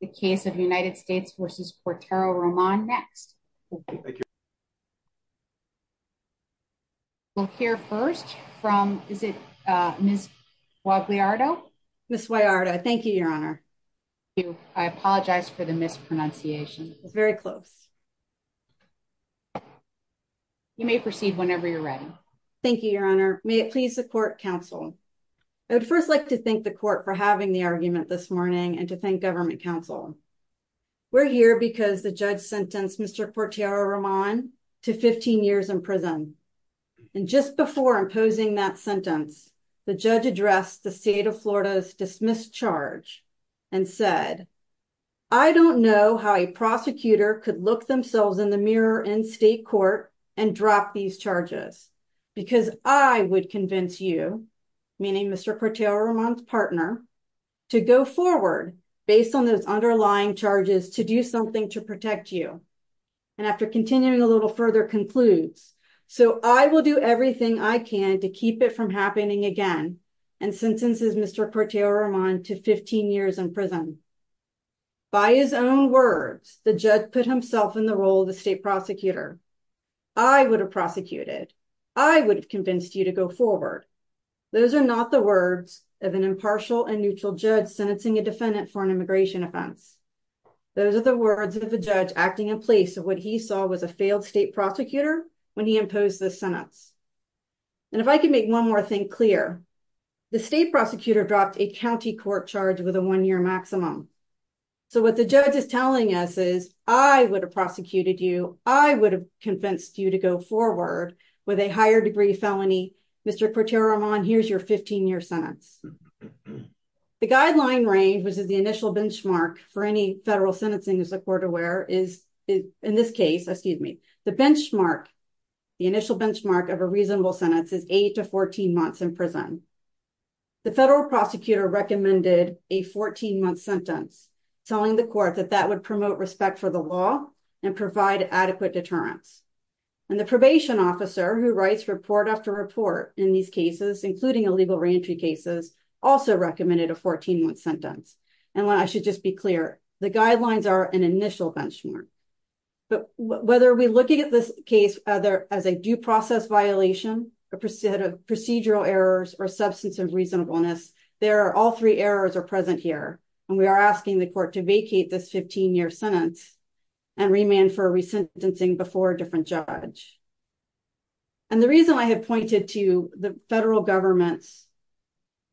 The case of United States v. Cortero-Roman, next. We'll hear first from, is it Ms. Guagliardo? Ms. Guagliardo, thank you, Your Honor. Thank you. I apologize for the mispronunciation. It was very close. You may proceed whenever you're ready. Thank you, Your Honor. May it please the Court, Counsel. I would first like to thank the Court for having the argument this morning and to thank Government Counsel. We're here because the judge sentenced Mr. Cortero-Roman to 15 years in prison. And just before imposing that sentence, the judge addressed the state of Florida's dismissed charge and said, I don't know how a prosecutor could look themselves in the mirror in state court and drop these charges, because I would convince you, meaning Mr. Cortero-Roman's partner, to go forward based on those underlying charges to do something to protect you. And after continuing a little further concludes, So I will do everything I can to keep it from happening again and sentences Mr. Cortero-Roman to 15 years in prison. By his own words, the judge put himself in the role of the state prosecutor. I would have prosecuted. I would have convinced you to go forward. Those are not the words of an impartial and neutral judge sentencing a defendant for an immigration offense. Those are the words of a judge acting in place of what he saw was a failed state prosecutor when he imposed the sentence. And if I can make one more thing clear, the state prosecutor dropped a county court charge with a one year maximum. So what the judge is telling us is I would have prosecuted you. I would have convinced you to go forward with a higher degree felony. Mr. Cortero-Roman, here's your 15 year sentence. The guideline range, which is the initial benchmark for any federal sentencing, as the court aware is in this case, excuse me, the benchmark, the initial benchmark of a reasonable sentence is eight to 14 months in prison. The federal prosecutor recommended a 14 month sentence, telling the court that that would promote respect for the law and provide adequate deterrence. And the probation officer who writes report after report in these cases, including illegal reentry cases, also recommended a 14 month sentence. And I should just be clear, the guidelines are an initial benchmark. But whether we look at this case as a due process violation, procedural errors or substance of reasonableness, there are all three errors are present here. And we are asking the court to vacate this 15 year sentence and remand for resentencing before a different judge. And the reason I have pointed to the federal government's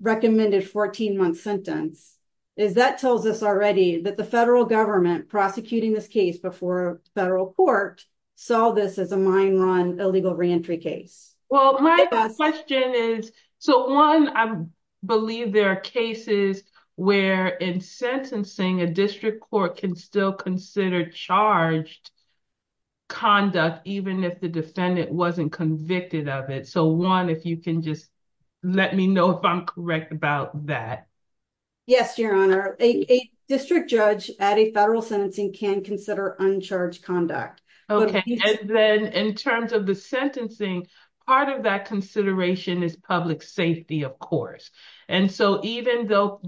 recommended 14 month sentence is that tells us already that the federal government prosecuting this case before a federal court saw this as a mine run illegal reentry case. Well, my question is, so one, I believe there are cases where in sentencing, a district court can still consider charged conduct, even if the defendant wasn't convicted of it. So one, if you can just let me know if I'm correct about that. Yes, Your Honor, a district judge at a federal sentencing can consider uncharged conduct. And then in terms of the sentencing, part of that consideration is public safety, of course. And so even though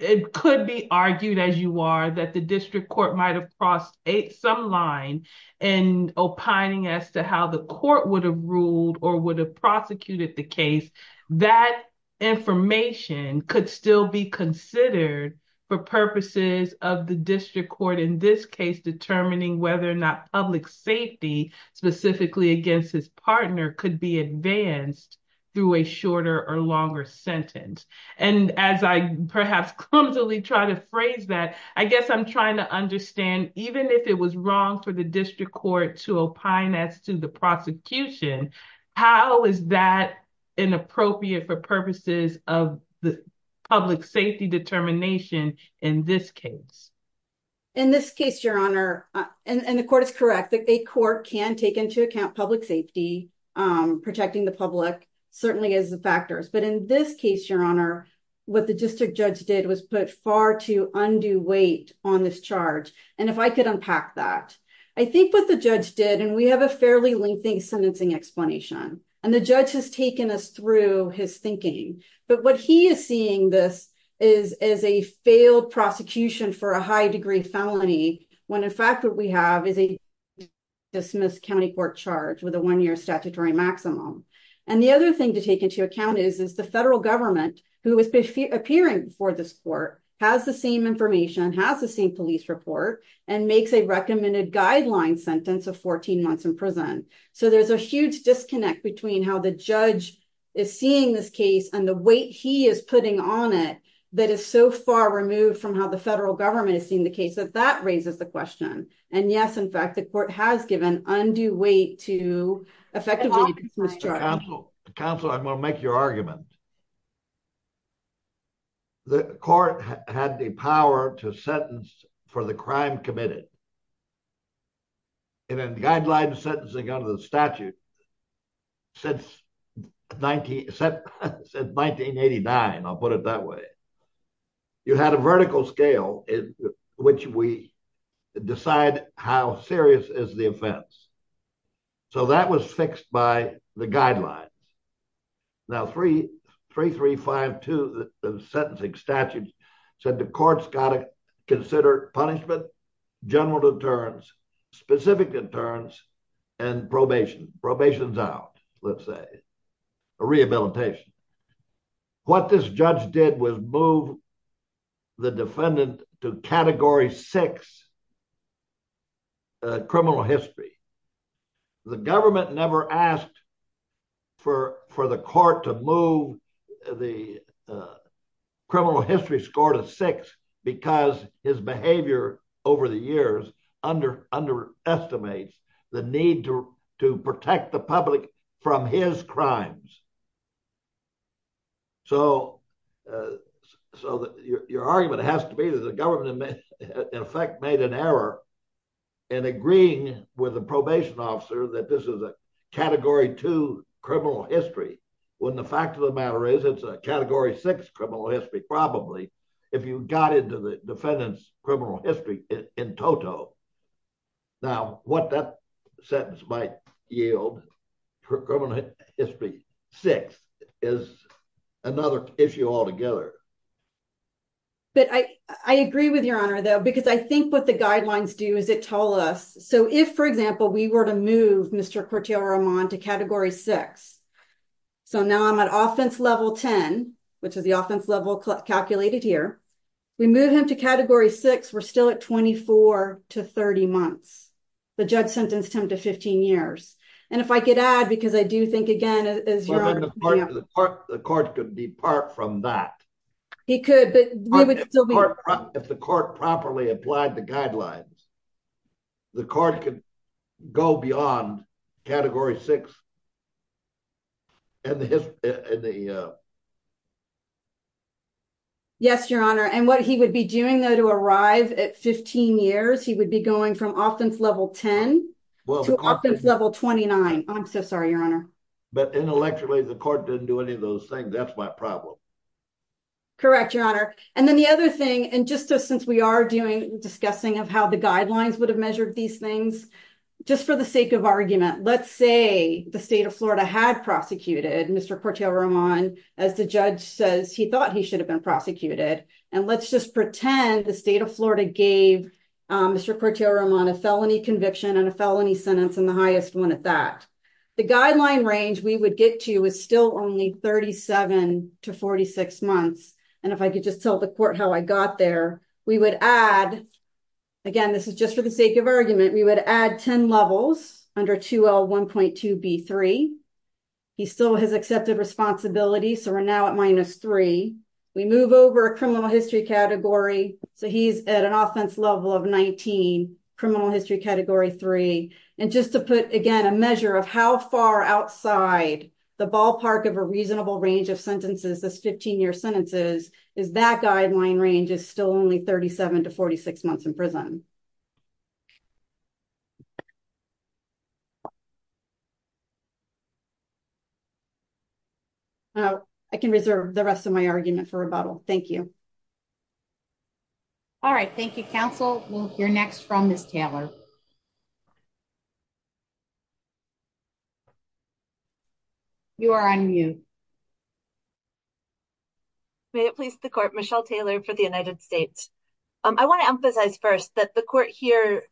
it could be argued, as you are, that the district court might have crossed some line and opining as to how the court would have ruled or would have prosecuted the case, that information could still be considered for purposes of the district court. In this case, determining whether or not public safety specifically against his partner could be advanced through a shorter or longer sentence. And as I perhaps clumsily try to phrase that, I guess I'm trying to understand, even if it was wrong for the district court to opine as to the prosecution, how is that inappropriate for purposes of the public safety determination in this case? In this case, Your Honor, and the court is correct, that a court can take into account public safety, protecting the public certainly as the factors. But in this case, Your Honor, what the district judge did was put far too undue weight on this charge. And if I could unpack that, I think what the judge did, and we have a fairly lengthy sentencing explanation, and the judge has taken us through his thinking. But what he is seeing this is as a failed prosecution for a high degree felony, when in fact what we have is a dismissed county court charge with a one year statutory maximum. And the other thing to take into account is, is the federal government, who is appearing for this court, has the same information, has the same police report, and makes a recommended guideline sentence of 14 months in prison. So there's a huge disconnect between how the judge is seeing this case and the weight he is putting on it that is so far removed from how the federal government is seeing the case that that raises the question. And yes, in fact, the court has given undue weight to effectively dismiss charges. Counselor, I'm going to make your argument. The court had the power to sentence for the crime committed. In a guideline sentencing under the statute, since 1989, I'll put it that way, you had a vertical scale in which we decide how serious is the offense. So that was fixed by the guidelines. Now, 3352, the sentencing statute said the court's got to consider punishment, general deterrence, specific deterrence, and probation, probation's out, let's say, rehabilitation. What this judge did was move the defendant to category six criminal history. The government never asked for the court to move the criminal history score to six because his behavior over the years underestimates the need to protect the public from his crimes. So your argument has to be that the government in effect made an error in agreeing with the probation officer that this is a category two criminal history when the fact of the matter is it's a category six criminal history probably if you got into the defendant's criminal history in toto. Now, what that sentence might yield, criminal history six, is another issue altogether. But I agree with your honor, though, because I think what the guidelines do is it told us. So if, for example, we were to move Mr. Corteo-Ramon to category six. So now I'm at offense level 10, which is the offense level calculated here. We move him to category six, we're still at 24 to 30 months. The judge sentenced him to 15 years. And if I could add, because I do think again, as your honor. The court could depart from that. He could, but we would still be. If the court properly applied the guidelines, the court could go beyond category six. Yes, your honor. And what he would be doing, though, to arrive at 15 years, he would be going from offense level 10 to offense level 29. I'm so sorry, your honor. But intellectually, the court didn't do any of those things. That's my problem. Correct, your honor. And then the other thing, and just since we are discussing of how the guidelines would have measured these things. Just for the sake of argument, let's say the state of Florida had prosecuted Mr. Corteo-Ramon. As the judge says, he thought he should have been prosecuted. And let's just pretend the state of Florida gave Mr. Corteo-Ramon a felony conviction and a felony sentence in the highest one at that. The guideline range we would get to is still only 37 to 46 months. And if I could just tell the court how I got there, we would add, again, this is just for the sake of argument, we would add 10 levels under 2L1.2B3. He still has accepted responsibility, so we're now at minus three. We move over criminal history category, so he's at an offense level of 19, criminal history category three. And just to put, again, a measure of how far outside the ballpark of a reasonable range of sentences, those 15-year sentences, is that guideline range is still only 37 to 46 months in prison. I can reserve the rest of my argument for rebuttal. Thank you. All right. Thank you, counsel. We'll hear next from Ms. Taylor. You are on mute. May it please the court, Michelle Taylor for the United States. I want to emphasize first that the court here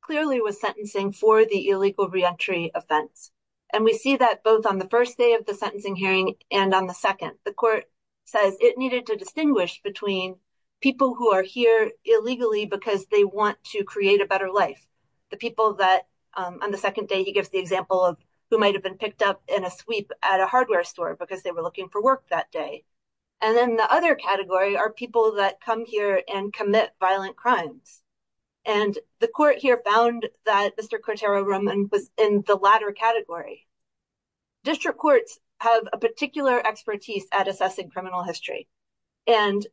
clearly was sentencing for the illegal reentry offense. And we see that both on the first day of the sentencing hearing and on the second. And the court says it needed to distinguish between people who are here illegally because they want to create a better life, the people that on the second day he gives the example of who might have been picked up in a sweep at a hardware store because they were looking for work that day. And then the other category are people that come here and commit violent crimes. And the court here found that Mr. Cotero Roman was in the latter category. District courts have a particular expertise at assessing criminal history, and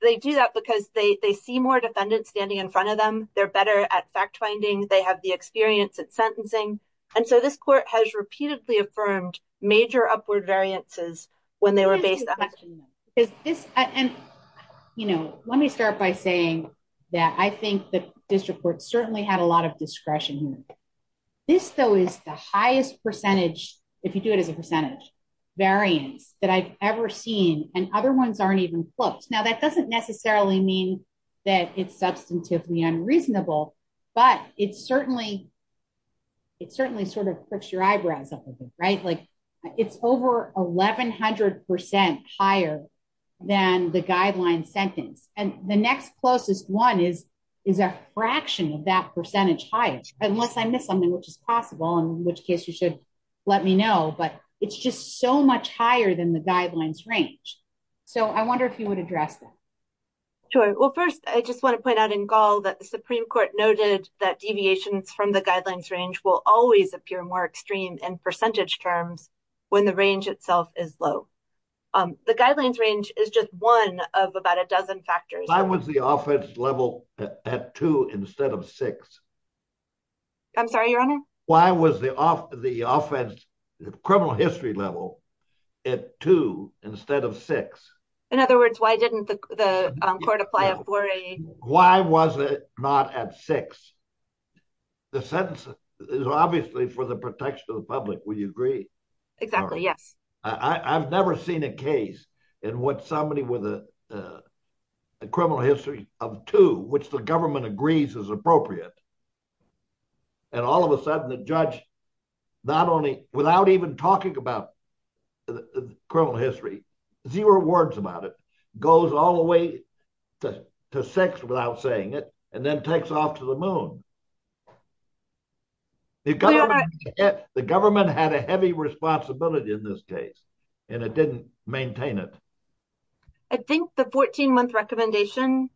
they do that because they see more defendants standing in front of them. They're better at fact finding. They have the experience at sentencing. And so this court has repeatedly affirmed major upward variances when they were based on this. And, you know, let me start by saying that I think the district court certainly had a lot of discretion. This, though, is the highest percentage, if you do it as a percentage variance that I've ever seen. And other ones aren't even close. Now, that doesn't necessarily mean that it's substantively unreasonable, but it certainly sort of pricks your eyebrows up a bit, right? Like, it's over 1,100% higher than the guideline sentence. And the next closest one is a fraction of that percentage higher. Unless I missed something, which is possible, in which case you should let me know. But it's just so much higher than the guidelines range. So I wonder if you would address that. Sure. Well, first, I just want to point out in Gall that the Supreme Court noted that deviations from the guidelines range will always appear more extreme in percentage terms when the range itself is low. The guidelines range is just one of about a dozen factors. Why was the offense level at 2 instead of 6? I'm sorry, Your Honor? Why was the offense criminal history level at 2 instead of 6? In other words, why didn't the court apply a 4A? Why was it not at 6? The sentence is obviously for the protection of the public. Would you agree? Exactly, yes. I've never seen a case in which somebody with a criminal history of 2, which the government agrees is appropriate. And all of a sudden, the judge, not only without even talking about criminal history, zero words about it, goes all the way to 6 without saying it, and then takes off to the moon. The government had a heavy responsibility in this case, and it didn't maintain it. I think the 14-month recommendation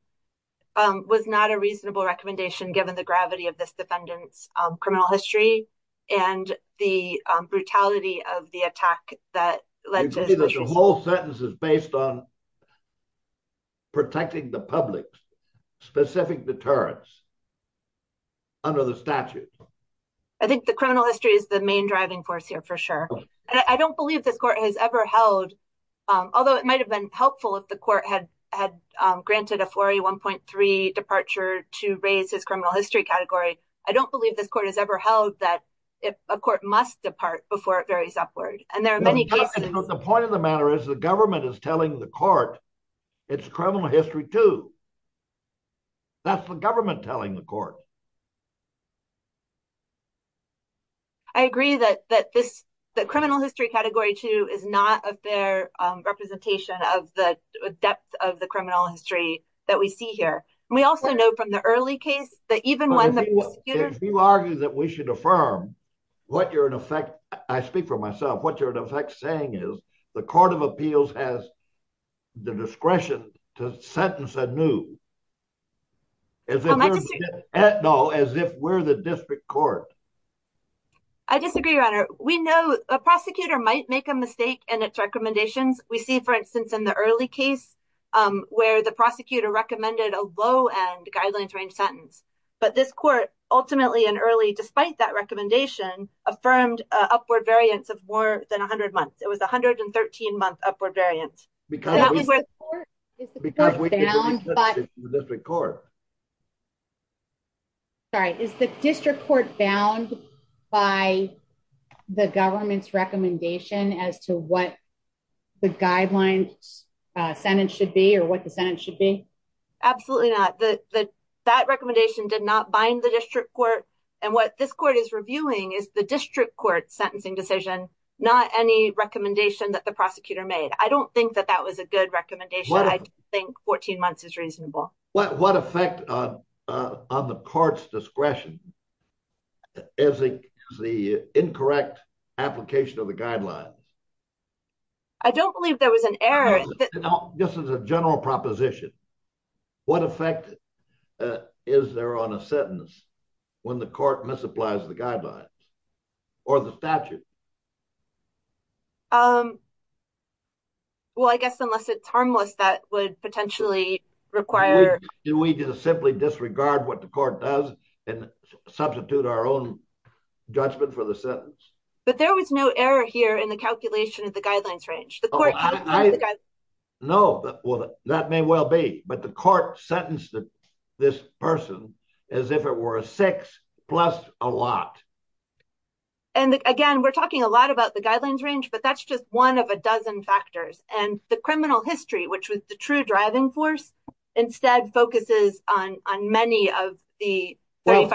was not a reasonable recommendation, given the gravity of this defendant's criminal history and the brutality of the attack that led to this. I agree that the whole sentence is based on protecting the public's specific deterrence under the statute. I think the criminal history is the main driving force here, for sure. I don't believe this court has ever held, although it might have been helpful if the court had granted a 4A 1.3 departure to raise his criminal history category, I don't believe this court has ever held that a court must depart before it varies upward. The point of the matter is the government is telling the court it's criminal history 2. That's the government telling the court. I agree that the criminal history category 2 is not a fair representation of the depth of the criminal history that we see here. If you argue that we should affirm what you're in effect, I speak for myself, what you're in effect saying is the court of appeals has the discretion to sentence a new as if we're the district court. I disagree, your honor. We know a prosecutor might make a mistake in its recommendations. We see, for instance, in the early case where the prosecutor recommended a low end guidelines range sentence. But this court ultimately and early, despite that recommendation, affirmed upward variance of more than 100 months. It was 113 month upward variance. Is the district court bound by the government's recommendation as to what the guidelines sentence should be or what the sentence should be? Absolutely not. That recommendation did not bind the district court. And what this court is reviewing is the district court sentencing decision, not any recommendation that the prosecutor made. I don't think that that was a good recommendation. I think 14 months is reasonable. What effect on the court's discretion is the incorrect application of the guidelines? I don't believe there was an error. This is a general proposition. What effect is there on a sentence when the court misapplies the guidelines or the statute? Well, I guess unless it's harmless, that would potentially require. Do we just simply disregard what the court does and substitute our own judgment for the sentence? But there was no error here in the calculation of the guidelines range. No. Well, that may well be. But the court sentenced this person as if it were a six plus a lot. And again, we're talking a lot about the guidelines range, but that's just one of a dozen factors. And the criminal history, which was the true driving force, instead focuses on many of the. Of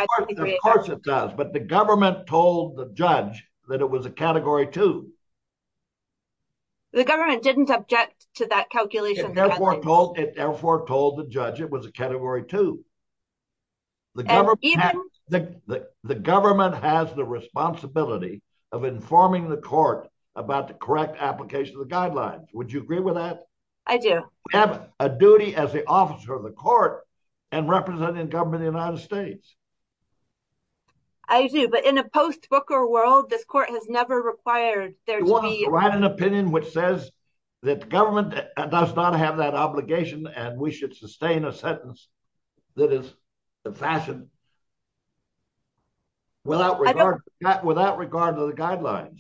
course it does. But the government told the judge that it was a category two. The government didn't object to that calculation. It therefore told the judge it was a category two. The government has the responsibility of informing the court about the correct application of the guidelines. Would you agree with that? I do. We have a duty as the officer of the court and representing government in the United States. I do. But in a post booker world, this court has never required there to be an opinion which says that the government does not have that obligation. And we should sustain a sentence that is the fashion. Without regard to that, without regard to the guidelines.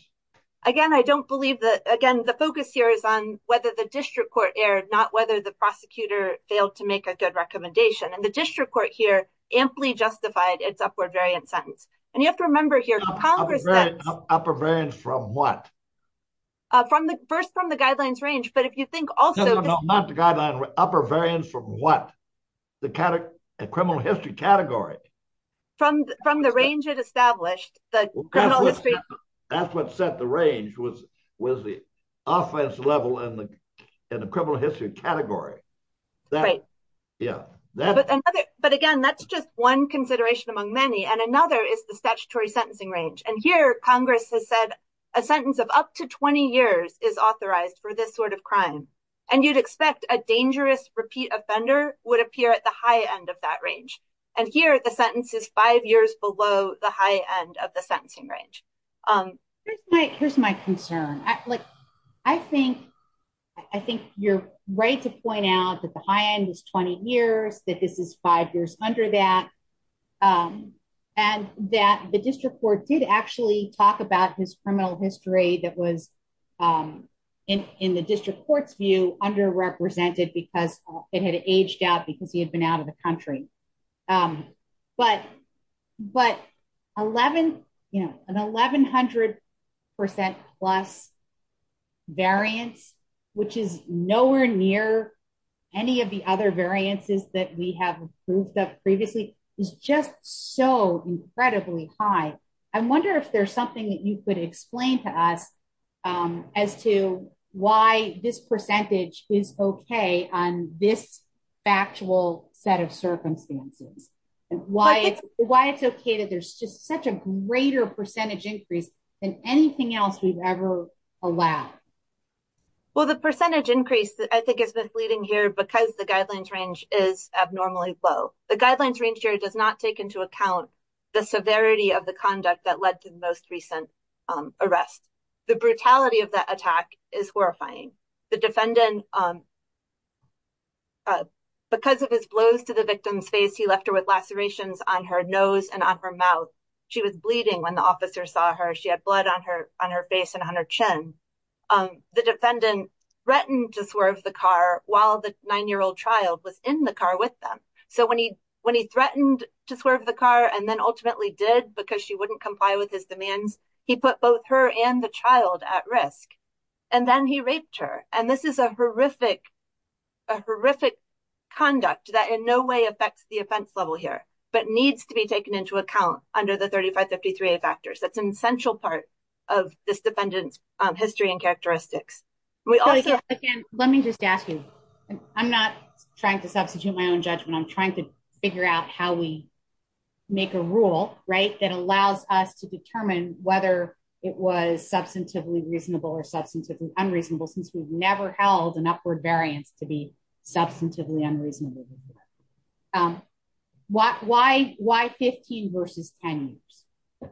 Again, I don't believe that. Again, the focus here is on whether the district court erred, not whether the prosecutor failed to make a good recommendation. And the district court here amply justified its upward variant sentence. And you have to remember here. Upward variance from what? First from the guidelines range. But if you think also. Not the guidelines. Upward variance from what? The criminal history category. From the range it established. The criminal history. That's what set the range was the offense level in the criminal history category. Right. Yeah. But, again, that's just one consideration among many. And another is the statutory sentencing range. And here Congress has said a sentence of up to 20 years is authorized for this sort of crime. And you'd expect a dangerous repeat offender would appear at the high end of that range. And here the sentence is five years below the high end of the sentencing range. Here's my concern. I think. I think you're right to point out that the high end is 20 years, that this is five years under that. And that the district court did actually talk about his criminal history that was in the district court's view underrepresented because it had aged out because he had been out of the country. But, but 11, you know, an 1100% plus variance, which is nowhere near any of the other variances that we have proved that previously is just so incredibly high. I wonder if there's something that you could explain to us as to why this percentage is okay on this factual set of circumstances, and why it's why it's okay that there's just such a greater percentage increase than anything else we've ever allowed. Well, the percentage increase, I think, is misleading here because the guidelines range is abnormally low. The guidelines range here does not take into account the severity of the conduct that led to the most recent arrest. The brutality of that attack is horrifying. The defendant, because of his blows to the victim's face, he left her with lacerations on her nose and on her mouth. She was bleeding when the officer saw her, she had blood on her, on her face and on her chin. The defendant threatened to swerve the car, while the nine year old child was in the car with them. So when he, when he threatened to swerve the car and then ultimately did because she wouldn't comply with his demands. He put both her and the child at risk. And then he raped her, and this is a horrific, horrific conduct that in no way affects the offense level here, but needs to be taken into account under the 3553 factors that's an essential part of this defendant's history and characteristics. Let me just ask you, I'm not trying to substitute my own judgment I'm trying to figure out how we make a rule right that allows us to determine whether it was substantively reasonable or substantively unreasonable since we've never held an upward variance to be substantively unreasonable. Why, why, why 15 versus 10 years right,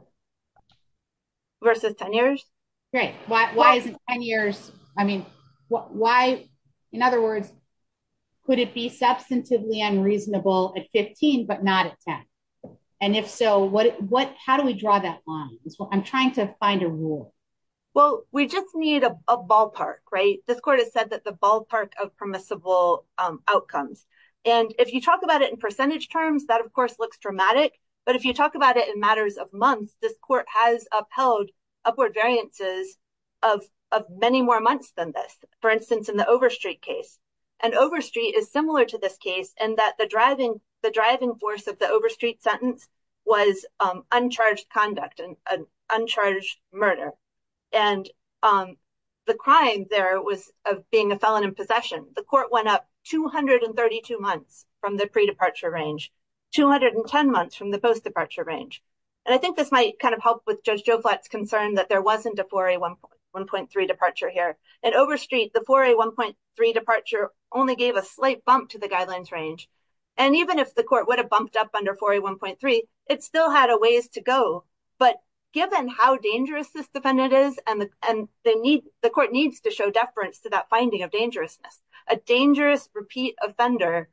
why isn't 10 years. I mean, why. In other words, could it be substantively unreasonable at 15 but not at 10. And if so what what how do we draw that line is what I'm trying to find a rule. Well, we just need a ballpark right this court has said that the ballpark of permissible outcomes. And if you talk about it in percentage terms that of course looks dramatic. But if you talk about it in matters of months this court has upheld upward variances of many more months than this, for instance in the over street case and over street is similar to this case and that the driving the driving force of the over street sentence was uncharged conduct and uncharged murder. And the crime there was being a felon in possession, the court went up 232 months from the pre departure range 210 months from the post departure range. And I think this might kind of help with Judge Joe flats concerned that there wasn't a 41.1 point three departure here and over street the 41.3 departure, only gave a slight bump to the guidelines range. And even if the court would have bumped up under 41.3, it still had a ways to go. But given how dangerous this defendant is and and they need the court needs to show deference to that finding of dangerousness, a dangerous repeat offender.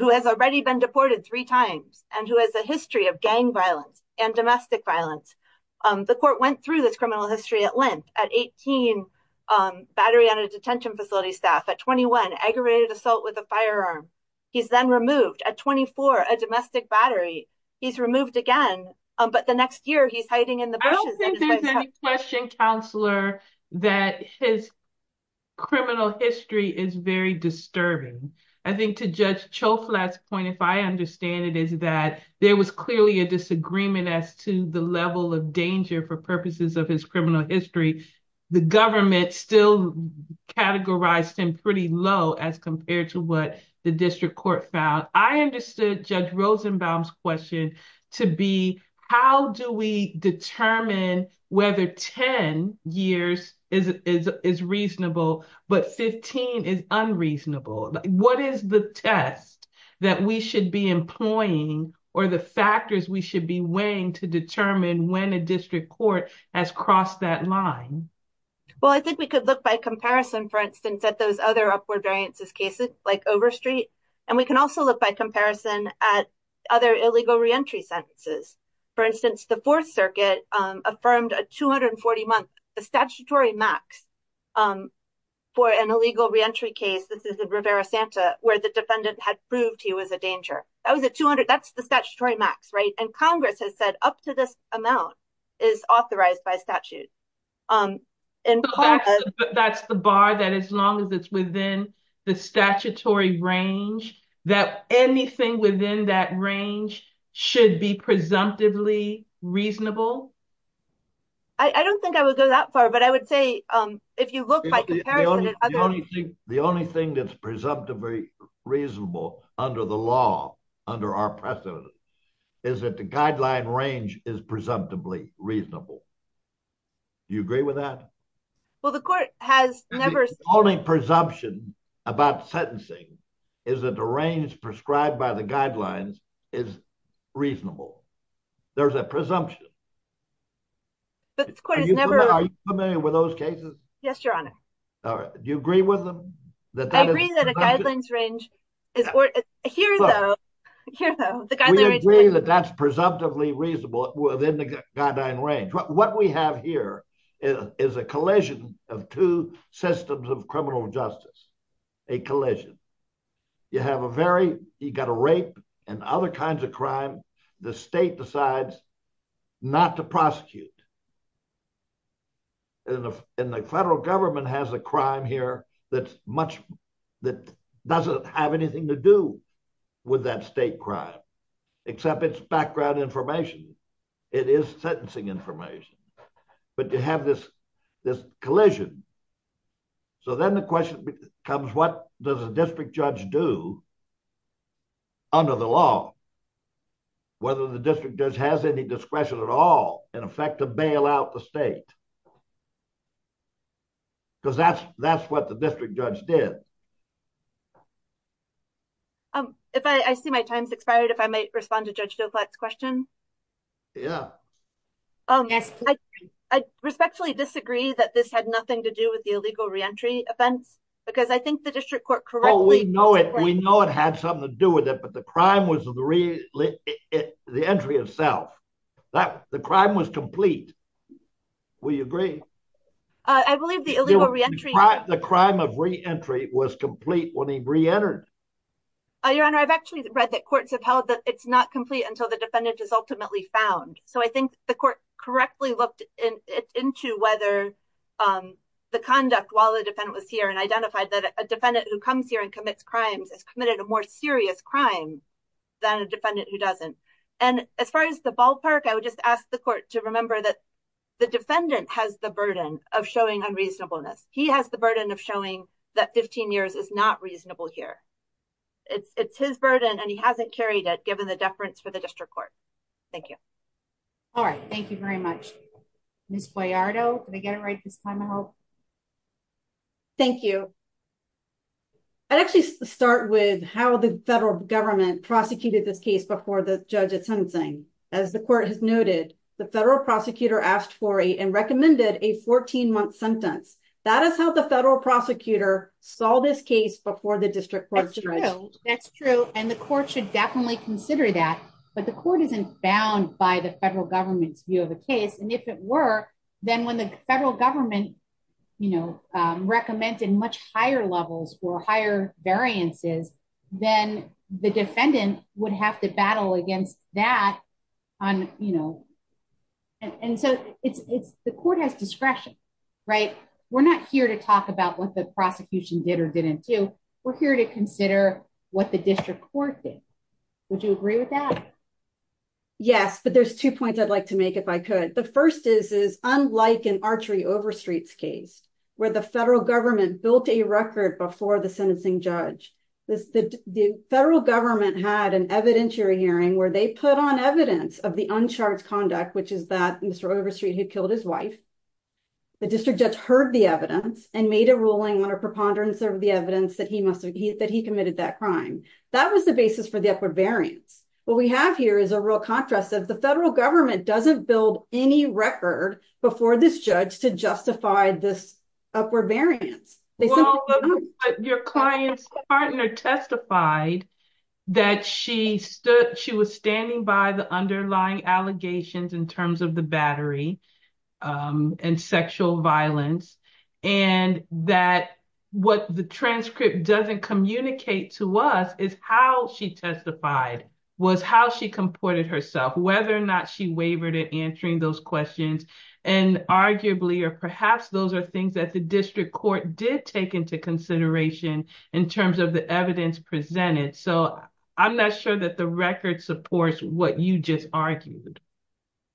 Who has already been deported three times, and who has a history of gang violence and domestic violence. The court went through this criminal history at length at 18 battery on a detention facility staff at 21 aggravated assault with a firearm. He's then removed at 24 a domestic battery. He's removed again, but the next year he's hiding in the question counselor that his criminal history is very disturbing. I think to judge Joe flats point if I understand it is that there was clearly a disagreement as to the level of danger for purposes of his criminal history. The government still categorized him pretty low as compared to what the district court found I understood Judge Rosenbaum's question to be, how do we determine whether 10 years is is reasonable, but 15 is unreasonable. What is the test that we should be employing, or the factors we should be weighing to determine when a district court has crossed that line. Well, I think we could look by comparison for instance at those other upward variances cases, like over street. And we can also look by comparison at other illegal reentry sentences. For instance, the Fourth Circuit affirmed a 240 month statutory max for an illegal reentry case this is a Rivera Santa, where the defendant had proved he was a danger. I was at 200 that's the statutory max right and Congress has said up to this amount is authorized by statute. And that's the bar that as long as it's within the statutory range that anything within that range should be presumptively reasonable. I don't think I would go that far but I would say, if you look at the only thing that's presumptively reasonable under the law under our precedent is that the guideline range is presumptively reasonable. You agree with that. Well, the court has never only presumption about sentencing is that the range prescribed by the guidelines is reasonable. There's a presumption. Are you familiar with those cases. Yes, Your Honor. All right. Do you agree with them. I agree that a guidelines range is here though. We agree that that's presumptively reasonable within the guideline range. What we have here is a collision of two systems of criminal justice. A collision. You have a very, you got a rape and other kinds of crime. The state decides not to prosecute. And the federal government has a crime here that's much that doesn't have anything to do with that state crime, except its background information. It is sentencing information, but you have this, this collision. So then the question becomes what does the district judge do under the law. Whether the district judge has any discretion at all, in effect to bail out the state. Because that's, that's what the district judge did. Um, if I see my time's expired if I might respond to judge Joe flex question. Yeah. I respectfully disagree that this had nothing to do with the illegal reentry offense, because I think the district court correctly know it we know it had something to do with it but the crime was really the entry itself. That the crime was complete. We agree. I believe the illegal reentry the crime of reentry was complete when he reentered. Your Honor, I've actually read that courts have held that it's not complete until the defendant is ultimately found. So I think the court correctly looked into whether the conduct while the defendant was here and identified that a defendant who comes here and commits crimes is committed a more serious crime than a defendant who doesn't. And as far as the ballpark I would just ask the court to remember that the defendant has the burden of showing unreasonableness, he has the burden of showing that 15 years is not reasonable here. It's his burden and he hasn't carried it given the difference for the district court. Thank you. All right, thank you very much. Miss Boyardo, they get it right this time I hope. Thank you. I'd actually start with how the federal government prosecuted this case before the judges hunting, as the court has noted, the federal prosecutor asked for a and recommended a 14 month sentence. That is how the federal prosecutor saw this case before the district. That's true, and the court should definitely consider that, but the court isn't bound by the federal government's view of the case and if it were, then when the federal government, you know, recommended much higher levels for higher variances, then the defendant would have to battle against that on, you know, and so it's the court has discretion. Right. We're not here to talk about what the prosecution did or didn't do. We're here to consider what the district court did. Would you agree with that. Yes, but there's two points I'd like to make if I could. The first is is unlike an archery over streets case where the federal government built a record before the sentencing judge. The federal government had an evidentiary hearing where they put on evidence of the uncharged conduct which is that Mr over street who killed his wife. The district judge heard the evidence and made a ruling on a preponderance of the evidence that he must have he that he committed that crime. That was the basis for the upward variance. What we have here is a real contrast that the federal government doesn't build any record before this judge to justify this upward variance. Your client's partner testified that she stood, she was standing by the underlying allegations in terms of the battery and sexual violence, and that what the transcript doesn't communicate to us is how she testified was how she comported herself whether or not she did take into consideration in terms of the evidence presented so I'm not sure that the record supports what you just argued.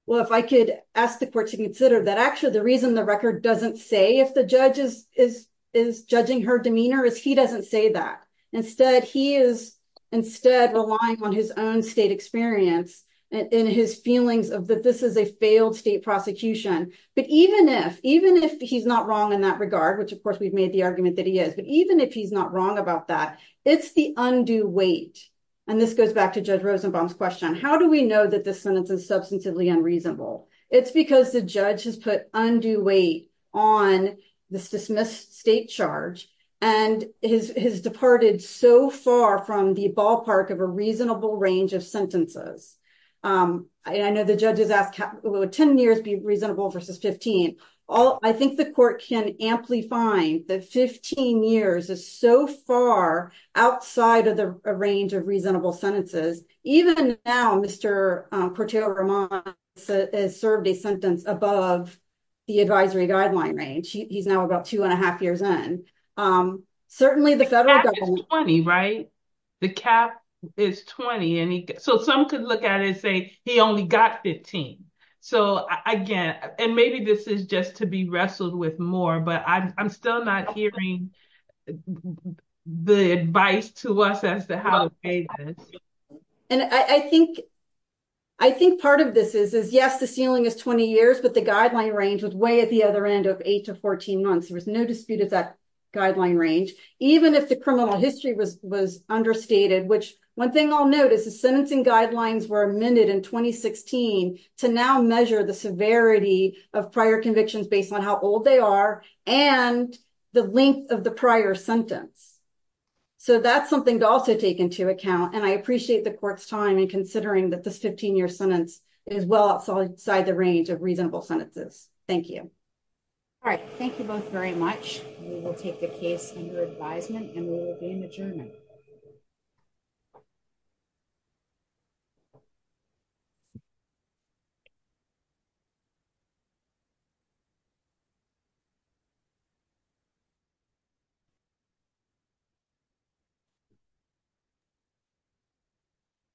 Well, if I could ask the court to consider that actually the reason the record doesn't say if the judges is is judging her demeanor is he doesn't say that. Instead, he is instead relying on his own state experience in his feelings of that this is a failed state prosecution, but even if even if he's not wrong in that regard which of course we've made the argument that he is but even if he's not wrong about that. It's the undue weight. And this goes back to judge Rosenbaum's question how do we know that this sentence is substantively unreasonable. It's because the judge has put undue weight on the dismissed state charge, and his has departed so far from the ballpark of a reasonable range of sentences. I know the judges ask 10 years be reasonable versus 15. All I think the court can amply find that 15 years is so far outside of the range of reasonable sentences, even now Mr. is served a sentence above the advisory guideline range, he's now about two and a half years and certainly the federal money right. The cap is 20 and so some could look at it say he only got 15. So, again, and maybe this is just to be wrestled with more but I'm still not hearing the advice to us as to how. And I think, I think part of this is is yes the ceiling is 20 years but the guideline range with way at the other end of eight to 14 months there was no dispute of that guideline range, even if the criminal history was was understated which one thing I'll note is the sentencing guidelines were amended in 2016 to now measure the severity of prior convictions based on how old they are, and the length of the prior sentence. So that's something to also take into account and I appreciate the court's time and considering that this 15 year sentence is well outside the range of reasonable sentences. Thank you. All right, thank you both very much. We will take the case under advisement and we will be in the journey.